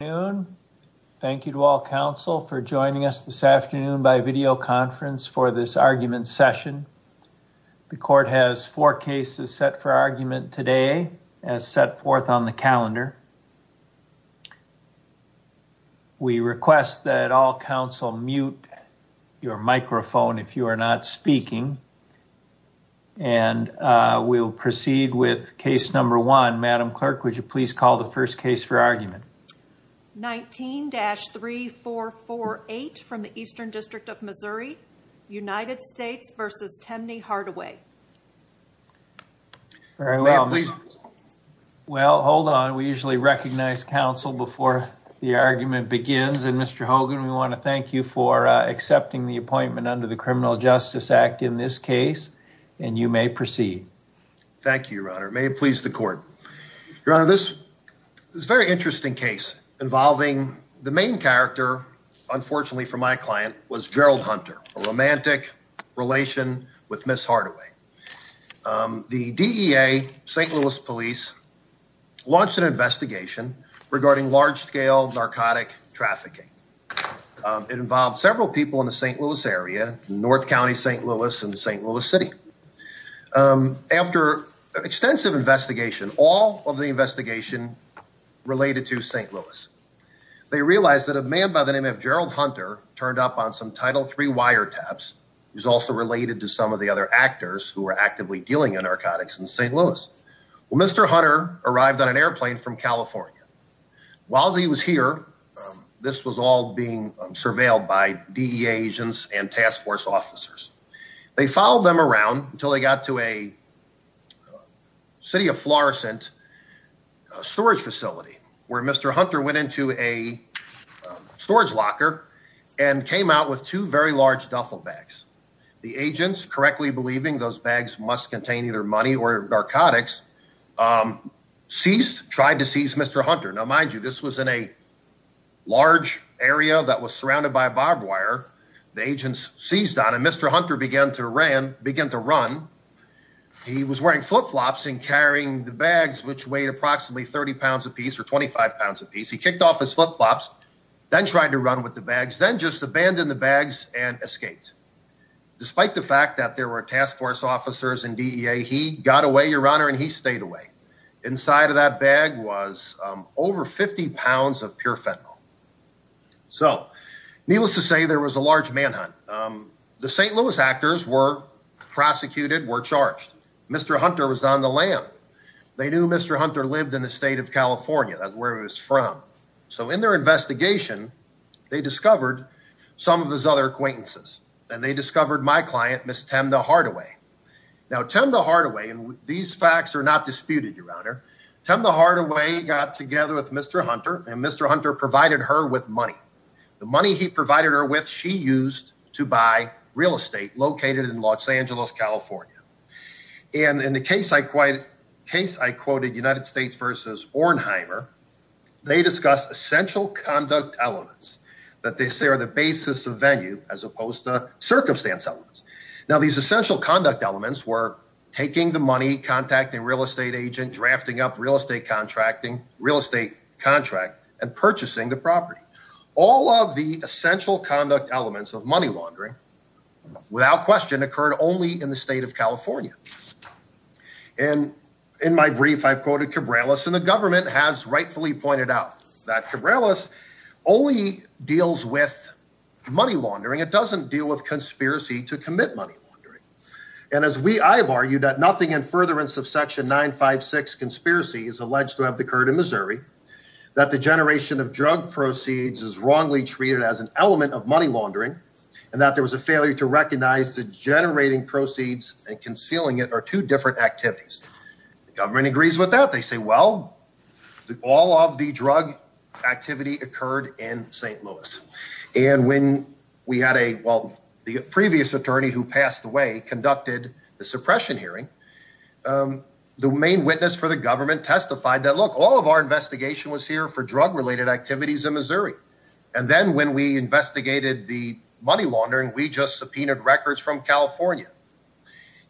Good afternoon. Thank you to all counsel for joining us this afternoon by video conference for this argument session. The court has four cases set for argument today as set forth on the calendar. We request that all counsel mute your microphone if you are not speaking. And we'll proceed with case number one. Madam Clerk, would you please call the first case for argument? 19-3448 from the Eastern District of Missouri, United States v. Temne Hardaway. Well, hold on. We usually recognize counsel before the argument begins. And Mr. Hogan, we want to thank you for accepting the appointment under the Criminal Justice Act in this case. And you may proceed. Thank you, Your Honor. May it please the court. Your Honor, this is a very interesting case involving the main character, unfortunately for my client, was Gerald Hunter, a romantic relation with Ms. Hardaway. The DEA, St. Louis Police, launched an investigation regarding large-scale narcotic trafficking. It involved several people in the St. Louis area, North County St. Louis and St. Louis City. After extensive investigation, all of the investigation related to St. Louis. They realized that a man by the name of Gerald Hunter turned up on some Title III wiretaps. He was also related to some of the other actors who were actively dealing in narcotics in St. Louis. Well, Mr. Hunter arrived on an airplane from California. While he was here, this was all being surveilled by DEA agents and task force officers. They followed them around until they got to a city of Florissant storage facility, where Mr. Hunter went into a storage locker and came out with two very large duffel bags. The agents, correctly believing those bags must contain either money or narcotics, seized, tried to seize Mr. Hunter. Now, mind you, this was in a large area that was surrounded by barbed wire. The agents seized on him. Mr. Hunter began to run. He was wearing flip-flops and carrying the bags, which weighed approximately 30 pounds apiece or 25 pounds apiece. He kicked off his flip-flops, then tried to run with the bags, then just abandoned the bags and escaped. Despite the fact that there were task force officers and DEA, he got away, Your Honor, and he stayed away. Inside of that bag was over 50 pounds of pure fentanyl. So, needless to say, there was a large manhunt. The St. Louis actors were prosecuted, were charged. Mr. Hunter was on the lam. They knew Mr. Hunter lived in the state of California. That's where he was from. So in their investigation, they discovered some of his other acquaintances, and they discovered my client, Ms. Temda Hardaway. Now, Temda Hardaway, and these facts are not disputed, Your Honor, Temda Hardaway got together with Mr. Hunter, and Mr. Hunter provided her with money. The money he provided her with, she used to buy real estate located in Los Angeles, California. And in the case I quoted, United States v. Ornheimer, they discussed essential conduct elements that they say are the basis of venue as opposed to circumstance elements. Now, these essential conduct elements were taking the money, contacting a real estate agent, drafting up real estate contracting, real estate contract, and purchasing the property. All of the essential conduct elements of money laundering, without question, occurred only in the state of California. And in my brief, I've quoted Cabrales, and the government has rightfully pointed out that Cabrales only deals with money laundering. It doesn't deal with conspiracy to commit money laundering. And as we have argued that nothing in furtherance of Section 956 conspiracy is alleged to have occurred in Missouri, that the generation of drug proceeds is wrongly treated as an element of money laundering, and that there was a failure to recognize that generating proceeds and concealing it are two different activities. The government agrees with that. They say, well, all of the drug activity occurred in St. Louis. And when we had a well, the previous attorney who passed away conducted the suppression hearing, the main witness for the government testified that, look, all of our investigation was here for drug related activities in Missouri. And then when we investigated the money laundering, we just subpoenaed records from California.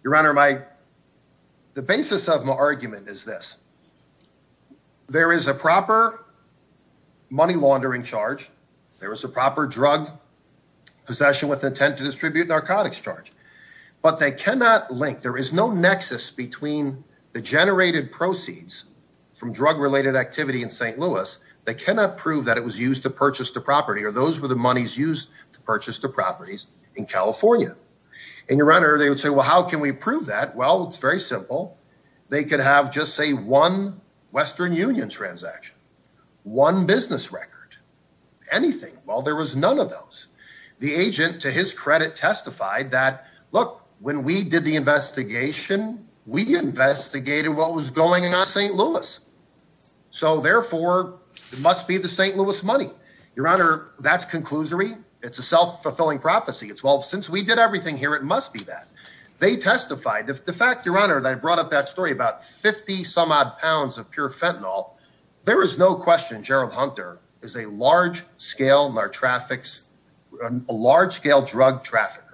Your Honor, my the basis of my argument is this. There is a proper money laundering charge. There is a proper drug possession with intent to distribute narcotics charge, but they cannot link. There is no nexus between the generated proceeds from drug related activity in St. Louis. They cannot prove that it was used to purchase the property or those were the monies used to purchase the properties in California. And, Your Honor, they would say, well, how can we prove that? Well, it's very simple. They could have just, say, one Western Union transaction, one business record, anything. Well, there was none of those. The agent, to his credit, testified that, look, when we did the investigation, we investigated what was going on in St. Louis. So, therefore, it must be the St. Louis money. Your Honor, that's conclusory. It's a self-fulfilling prophecy. It's, well, since we did everything here, it must be that. They testified. The fact, Your Honor, that I brought up that story about 50-some-odd pounds of pure fentanyl, there is no question Gerald Hunter is a large-scale drug trafficker.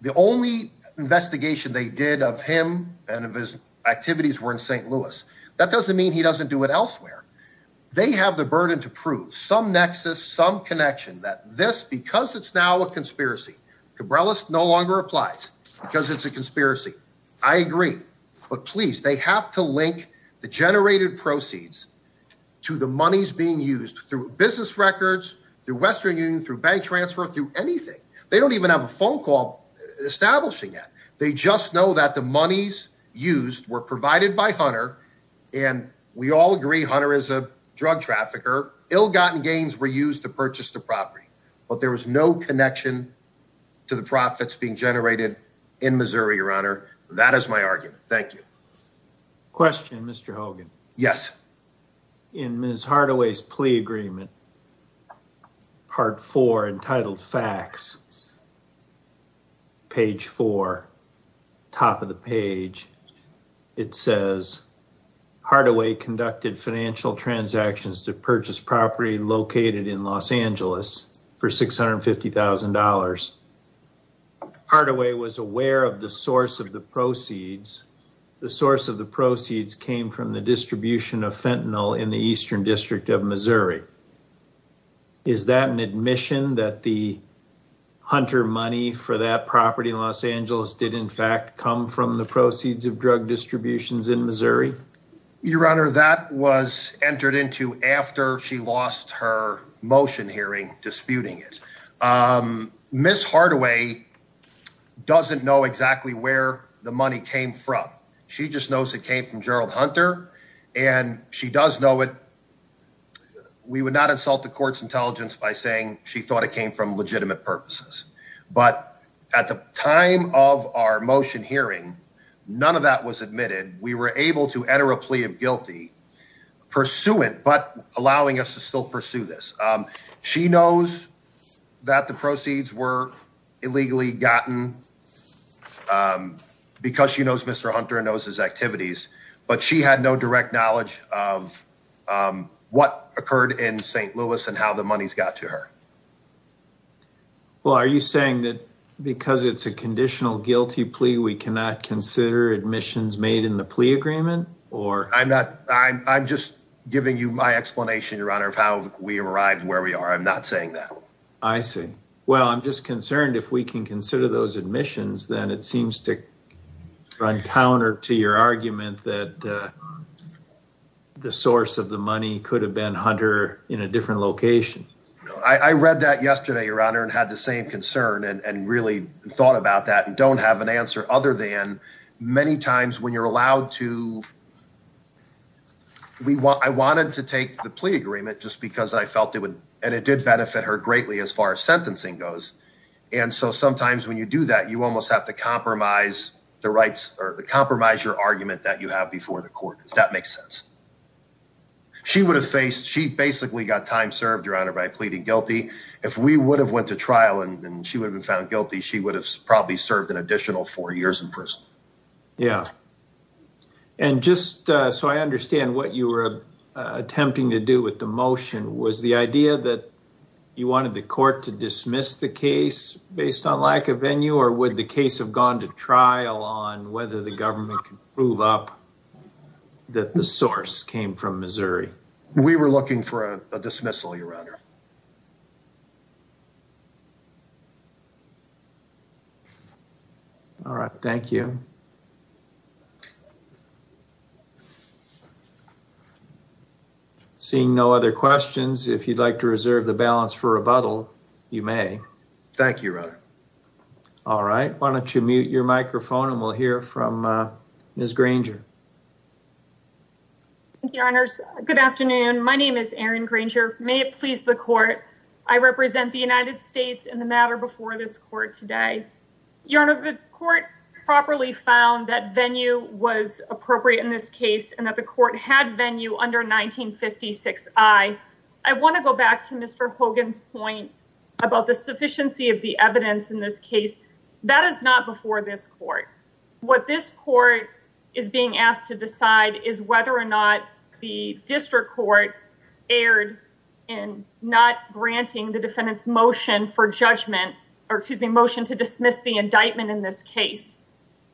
The only investigation they did of him and of his activities were in St. Louis. That doesn't mean he doesn't do it elsewhere. They have the burden to prove some nexus, some connection that this, because it's now a conspiracy, Cabrillas no longer applies because it's a conspiracy. I agree. But, please, they have to link the generated proceeds to the monies being used through business records, through Western Union, through bank transfer, through anything. They don't even have a phone call establishing that. They just know that the monies used were provided by Hunter, and we all agree Hunter is a drug trafficker. Ill-gotten gains were used to purchase the property, but there was no connection to the profits being generated in Missouri, Your Honor. That is my argument. Thank you. Question, Mr. Hogan. Yes. In Ms. Hardaway's plea agreement, part four, entitled facts, page four, top of the page, it says Hardaway conducted financial transactions to purchase property located in Los Angeles for $650,000. Hardaway was aware of the source of the proceeds. The source of the proceeds came from the distribution of fentanyl in the Eastern District of Missouri. Is that an admission that the Hunter money for that property in Los Angeles did, in fact, come from the proceeds of drug distributions in Missouri? Your Honor, that was entered into after she lost her motion hearing disputing it. Ms. Hardaway doesn't know exactly where the money came from. She just knows it came from Gerald Hunter, and she does know it. We would not insult the court's intelligence by saying she thought it came from legitimate purposes. But at the time of our motion hearing, none of that was admitted. We were able to enter a plea of guilty pursuant, but allowing us to still pursue this. She knows that the proceeds were illegally gotten because she knows Mr. Hunter and knows his activities. But she had no direct knowledge of what occurred in St. Louis and how the monies got to her. Well, are you saying that because it's a conditional guilty plea, we cannot consider admissions made in the plea agreement? I'm just giving you my explanation, Your Honor, of how we arrived where we are. I'm not saying that. I see. Well, I'm just concerned if we can consider those admissions, then it seems to run counter to your argument that the source of the money could have been Hunter in a different location. I read that yesterday, Your Honor, and had the same concern and really thought about that and don't have an answer other than many times when you're allowed to. I wanted to take the plea agreement just because I felt it would and it did benefit her greatly as far as sentencing goes. And so sometimes when you do that, you almost have to compromise the rights or the compromise, your argument that you have before the court. Does that make sense? She basically got time served, Your Honor, by pleading guilty. If we would have went to trial and she would have been found guilty, she would have probably served an additional four years in prison. Yeah. And just so I understand what you were attempting to do with the motion, was the idea that you wanted the court to dismiss the case based on lack of venue or would the case have gone to trial on whether the government can prove up that the source came from Missouri? We were looking for a dismissal, Your Honor. All right. Thank you. Seeing no other questions, if you'd like to reserve the balance for rebuttal, you may. Thank you, Your Honor. All right. Why don't you mute your microphone and we'll hear from Ms. Granger. Thank you, Your Honors. Good afternoon. My name is Erin Granger. May it please the court. I represent the United States in the matter before this court today. Your Honor, the court properly found that venue was appropriate in this case and that the court had venue under 1956I. I want to go back to Mr. Hogan's point about the sufficiency of the evidence in this case. That is not before this court. What this court is being asked to decide is whether or not the district court erred in not granting the defendant's motion for judgment or excuse me, motion to dismiss the indictment in this case.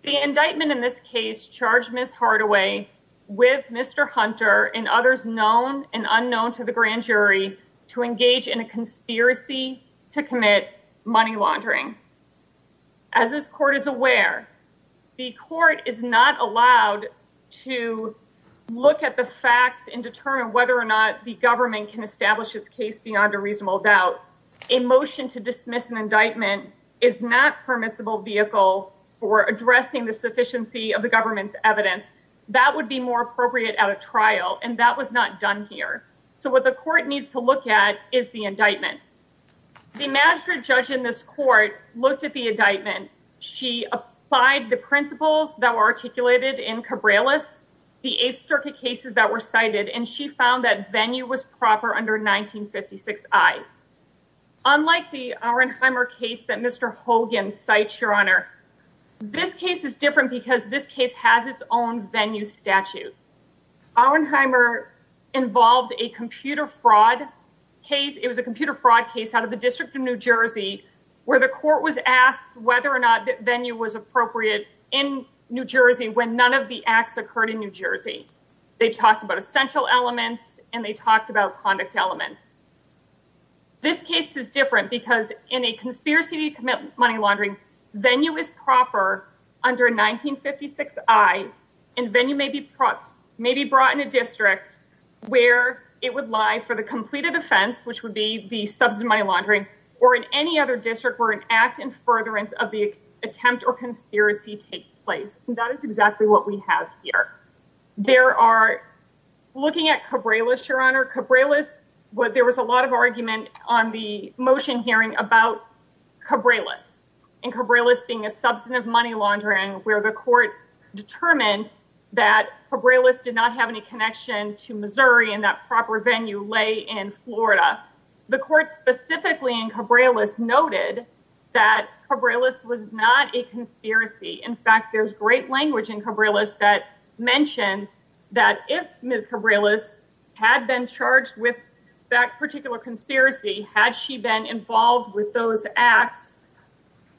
The indictment in this case charged Ms. Hardaway with Mr. Hunter and others known and unknown to the grand jury to engage in a conspiracy to commit money laundering. As this court is aware, the court is not allowed to look at the facts and determine whether or not the government can establish its case beyond a reasonable doubt. A motion to dismiss an indictment is not permissible vehicle for addressing the sufficiency of the government's evidence. That would be more appropriate at a trial and that was not done here. So what the court needs to look at is the indictment. The magistrate judge in this court looked at the indictment. She applied the principles that were articulated in Cabrales, the 8th Circuit cases that were cited, and she found that venue was proper under 1956I. Unlike the Auernheimer case that Mr. Hogan cites, Your Honor, this case is different because this case has its own venue statute. Auernheimer involved a computer fraud case. It was a computer fraud case out of the District of New Jersey where the court was asked whether or not venue was appropriate in New Jersey when none of the acts occurred in New Jersey. They talked about essential elements and they talked about conduct elements. This case is different because in a conspiracy to commit money laundering, venue is proper under 1956I and venue may be brought in a district where it would lie for the completed offense, which would be the substance of money laundering, or in any other district where an act in furtherance of the attempt or conspiracy takes place. That is exactly what we have here. Looking at Cabrales, Your Honor, there was a lot of argument on the motion hearing about Cabrales and Cabrales being a substance of money laundering where the court determined that Cabrales did not have any connection to Missouri and that proper venue lay in Florida. The court specifically in Cabrales noted that Cabrales was not a conspiracy. In fact, there's great language in Cabrales that mentions that if Ms. Cabrales had been charged with that particular conspiracy, had she been involved with those acts,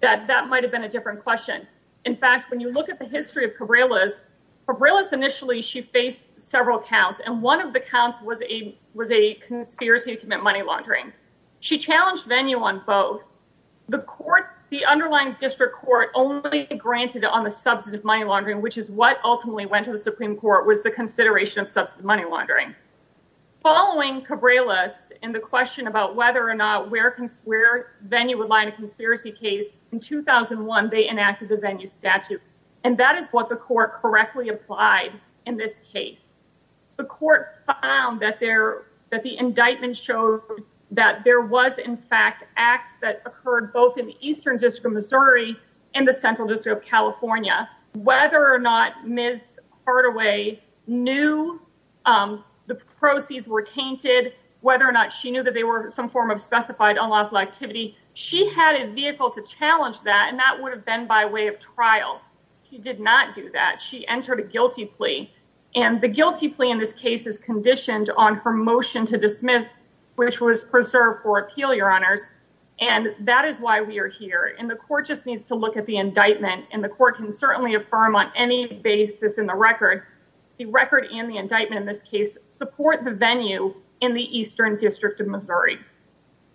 that that might have been a different question. In fact, when you look at the history of Cabrales, Cabrales initially she faced several counts and one of the counts was a conspiracy to commit money laundering. She challenged venue on both. The underlying district court only granted on the substance of money laundering, which is what ultimately went to the Supreme Court, was the consideration of substance of money laundering. Following Cabrales in the question about whether or not where venue would lie in a conspiracy case, in 2001 they enacted the venue statute. And that is what the court correctly applied in this case. The court found that the indictment showed that there was in fact acts that occurred both in the Eastern District of Missouri and the Central District of California. Whether or not Ms. Hardaway knew the proceeds were tainted, whether or not she knew that they were some form of specified unlawful activity, she had a vehicle to challenge that and that would have been by way of trial. She did not do that. She entered a guilty plea. And the guilty plea in this case is conditioned on her motion to dismiss, which was preserved for appeal, Your Honors. And that is why we are here. And the court just needs to look at the indictment. And the court can certainly affirm on any basis in the record. The record and the indictment in this case support the venue in the Eastern District of Missouri.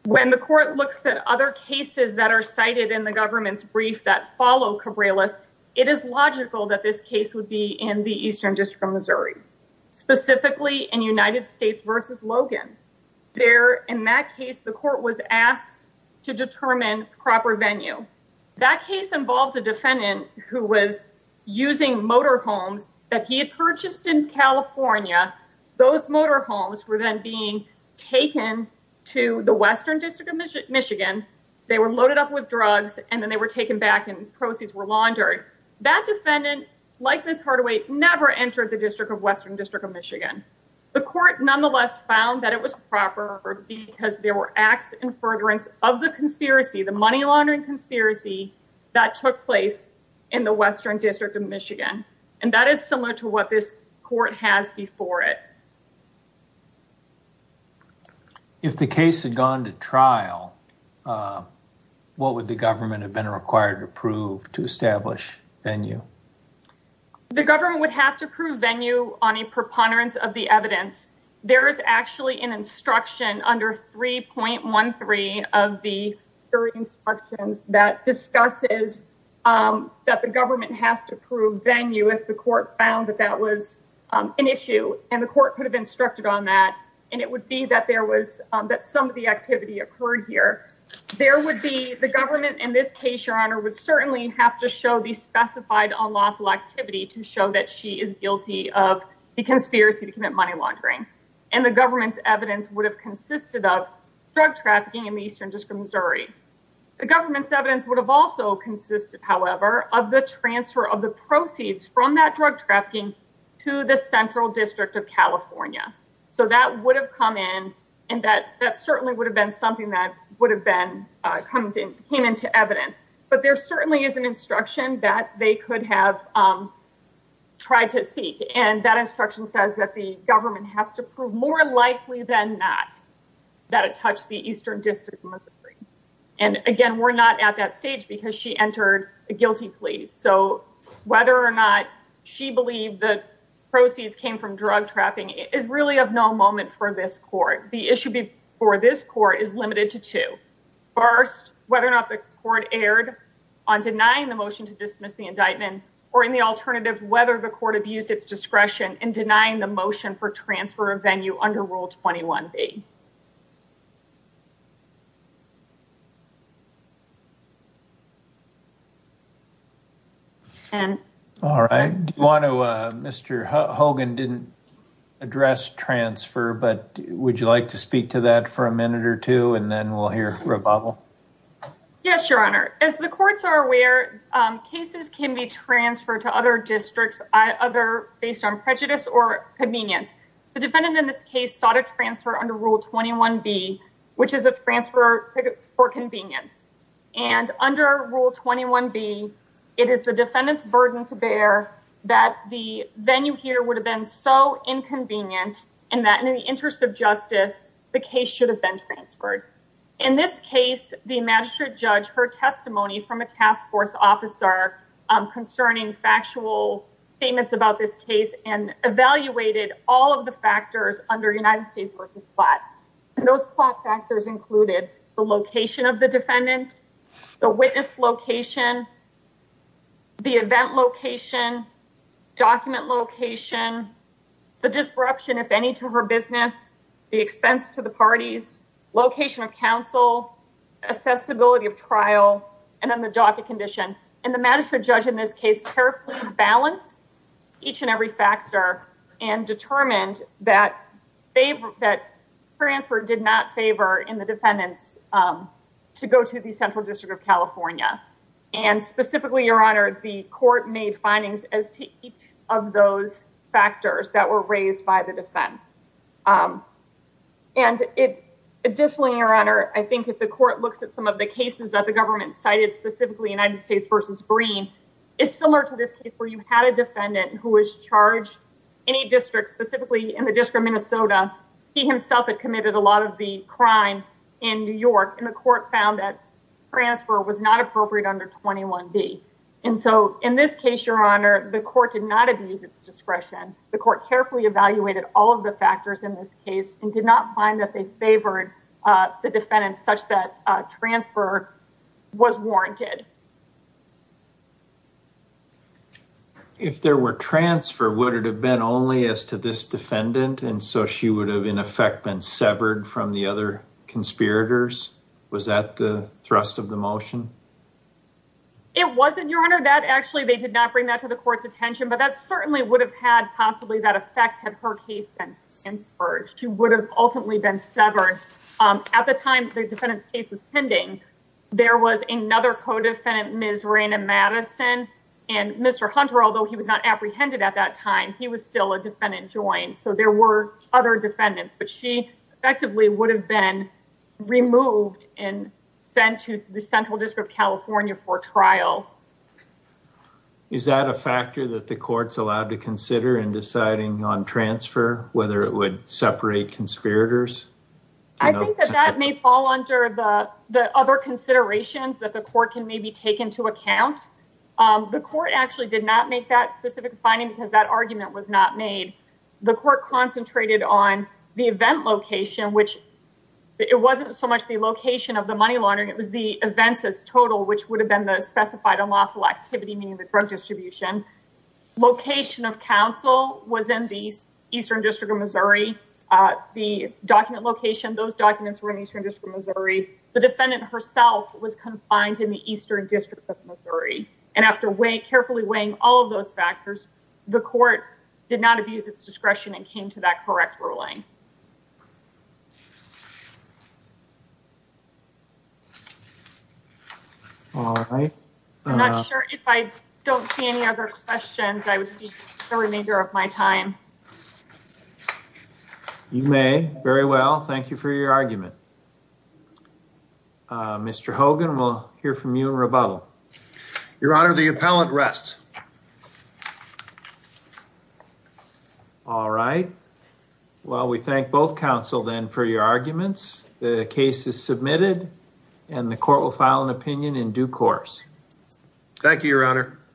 When the court looks at other cases that are cited in the government's brief that follow Cabrillas, it is logical that this case would be in the Eastern District of Missouri. Specifically in United States v. Logan. There, in that case, the court was asked to determine proper venue. That case involved a defendant who was using motorhomes that he had purchased in California. Those motorhomes were then being taken to the Western District of Michigan. They were loaded up with drugs and then they were taken back and proceeds were laundered. That defendant, like Ms. Hardaway, never entered the Western District of Michigan. The court nonetheless found that it was proper because there were acts in furtherance of the conspiracy, the money laundering conspiracy, that took place in the Western District of Michigan. And that is similar to what this court has before it. If the case had gone to trial, what would the government have been required to prove to establish venue? The government would have to prove venue on a preponderance of the evidence. There is actually an instruction under 3.13 of the instructions that discusses that the government has to prove venue if the court found that that was an issue. And the court could have instructed on that. And it would be that there was that some of the activity occurred here. The government in this case, Your Honor, would certainly have to show the specified unlawful activity to show that she is guilty of the conspiracy to commit money laundering. And the government's evidence would have consisted of drug trafficking in the Eastern District of Missouri. The government's evidence would have also consisted, however, of the transfer of the proceeds from that drug trafficking to the Central District of California. So that would have come in and that that certainly would have been something that would have been come came into evidence. But there certainly is an instruction that they could have tried to seek. And that instruction says that the government has to prove more likely than not that it touched the Eastern District of Missouri. And again, we're not at that stage because she entered a guilty plea. So whether or not she believed that proceeds came from drug trapping is really of no moment for this court. The issue before this court is limited to two. First, whether or not the court erred on denying the motion to dismiss the indictment or in the alternative, whether the court abused its discretion in denying the motion for transfer of venue under Rule 21B. All right. Mr. Hogan didn't address transfer, but would you like to speak to that for a minute or two and then we'll hear rebuttal? Yes, Your Honor. As the courts are aware, cases can be transferred to other districts, either based on prejudice or convenience. The defendant in this case sought a transfer under Rule 21B, which is a transfer for convenience. And under Rule 21B, it is the defendant's burden to bear that the venue here would have been so inconvenient and that in the interest of justice, the case should have been transferred. In this case, the magistrate judge heard testimony from a task force officer concerning factual statements about this case and evaluated all of the factors under United States v. Platt. And those Platt factors included the location of the defendant, the witness location, the event location, document location, the disruption, if any, to her business, the expense to the parties, location of counsel, accessibility of trial, and then the docket condition. And the magistrate judge in this case carefully balanced each and every factor and determined that transfer did not favor in the defendants to go to the Central District of California. And specifically, Your Honor, the court made findings as to each of those factors that were raised by the defense. And additionally, Your Honor, I think if the court looks at some of the cases that the government cited, specifically United States v. Green, it's similar to this case where you had a defendant who was charged any district, specifically in the District of Minnesota. He himself had committed a lot of the crime in New York, and the court found that transfer was not appropriate under 21B. And so in this case, Your Honor, the court did not abuse its discretion. The court carefully evaluated all of the factors in this case and did not find that they favored the defendant such that transfer was warranted. If there were transfer, would it have been only as to this defendant? And so she would have, in effect, been severed from the other conspirators? Was that the thrust of the motion? It wasn't, Your Honor. Actually, they did not bring that to the court's attention, but that certainly would have had possibly that effect had her case been insurgent. She would have ultimately been severed. At the time the defendant's case was pending, there was another co-defendant, Ms. Raina Madison, and Mr. Hunter, although he was not apprehended at that time, he was still a defendant joint. So there were other defendants, but she effectively would have been removed and sent to the Central District of California for trial. Is that a factor that the court's allowed to consider in deciding on transfer, whether it would separate conspirators? I think that that may fall under the other considerations that the court can maybe take into account. The court actually did not make that specific finding because that argument was not made. The court concentrated on the event location, which it wasn't so much the location of the money laundering, it was the events as total, which would have been the specified unlawful activity, meaning the drug distribution. Location of counsel was in the Eastern District of Missouri. The document location, those documents were in the Eastern District of Missouri. The defendant herself was confined in the Eastern District of Missouri. And after carefully weighing all of those factors, the court did not abuse its discretion and came to that correct ruling. I'm not sure if I don't see any other questions. I would see the remainder of my time. You may very well. Thank you for your argument. Mr. Hogan, we'll hear from you in rebuttal. Your Honor, the appellant rests. All right. Well, we thank both counsel then for your arguments. The case is submitted and the court will file an opinion in due course. Thank you, Your Honor.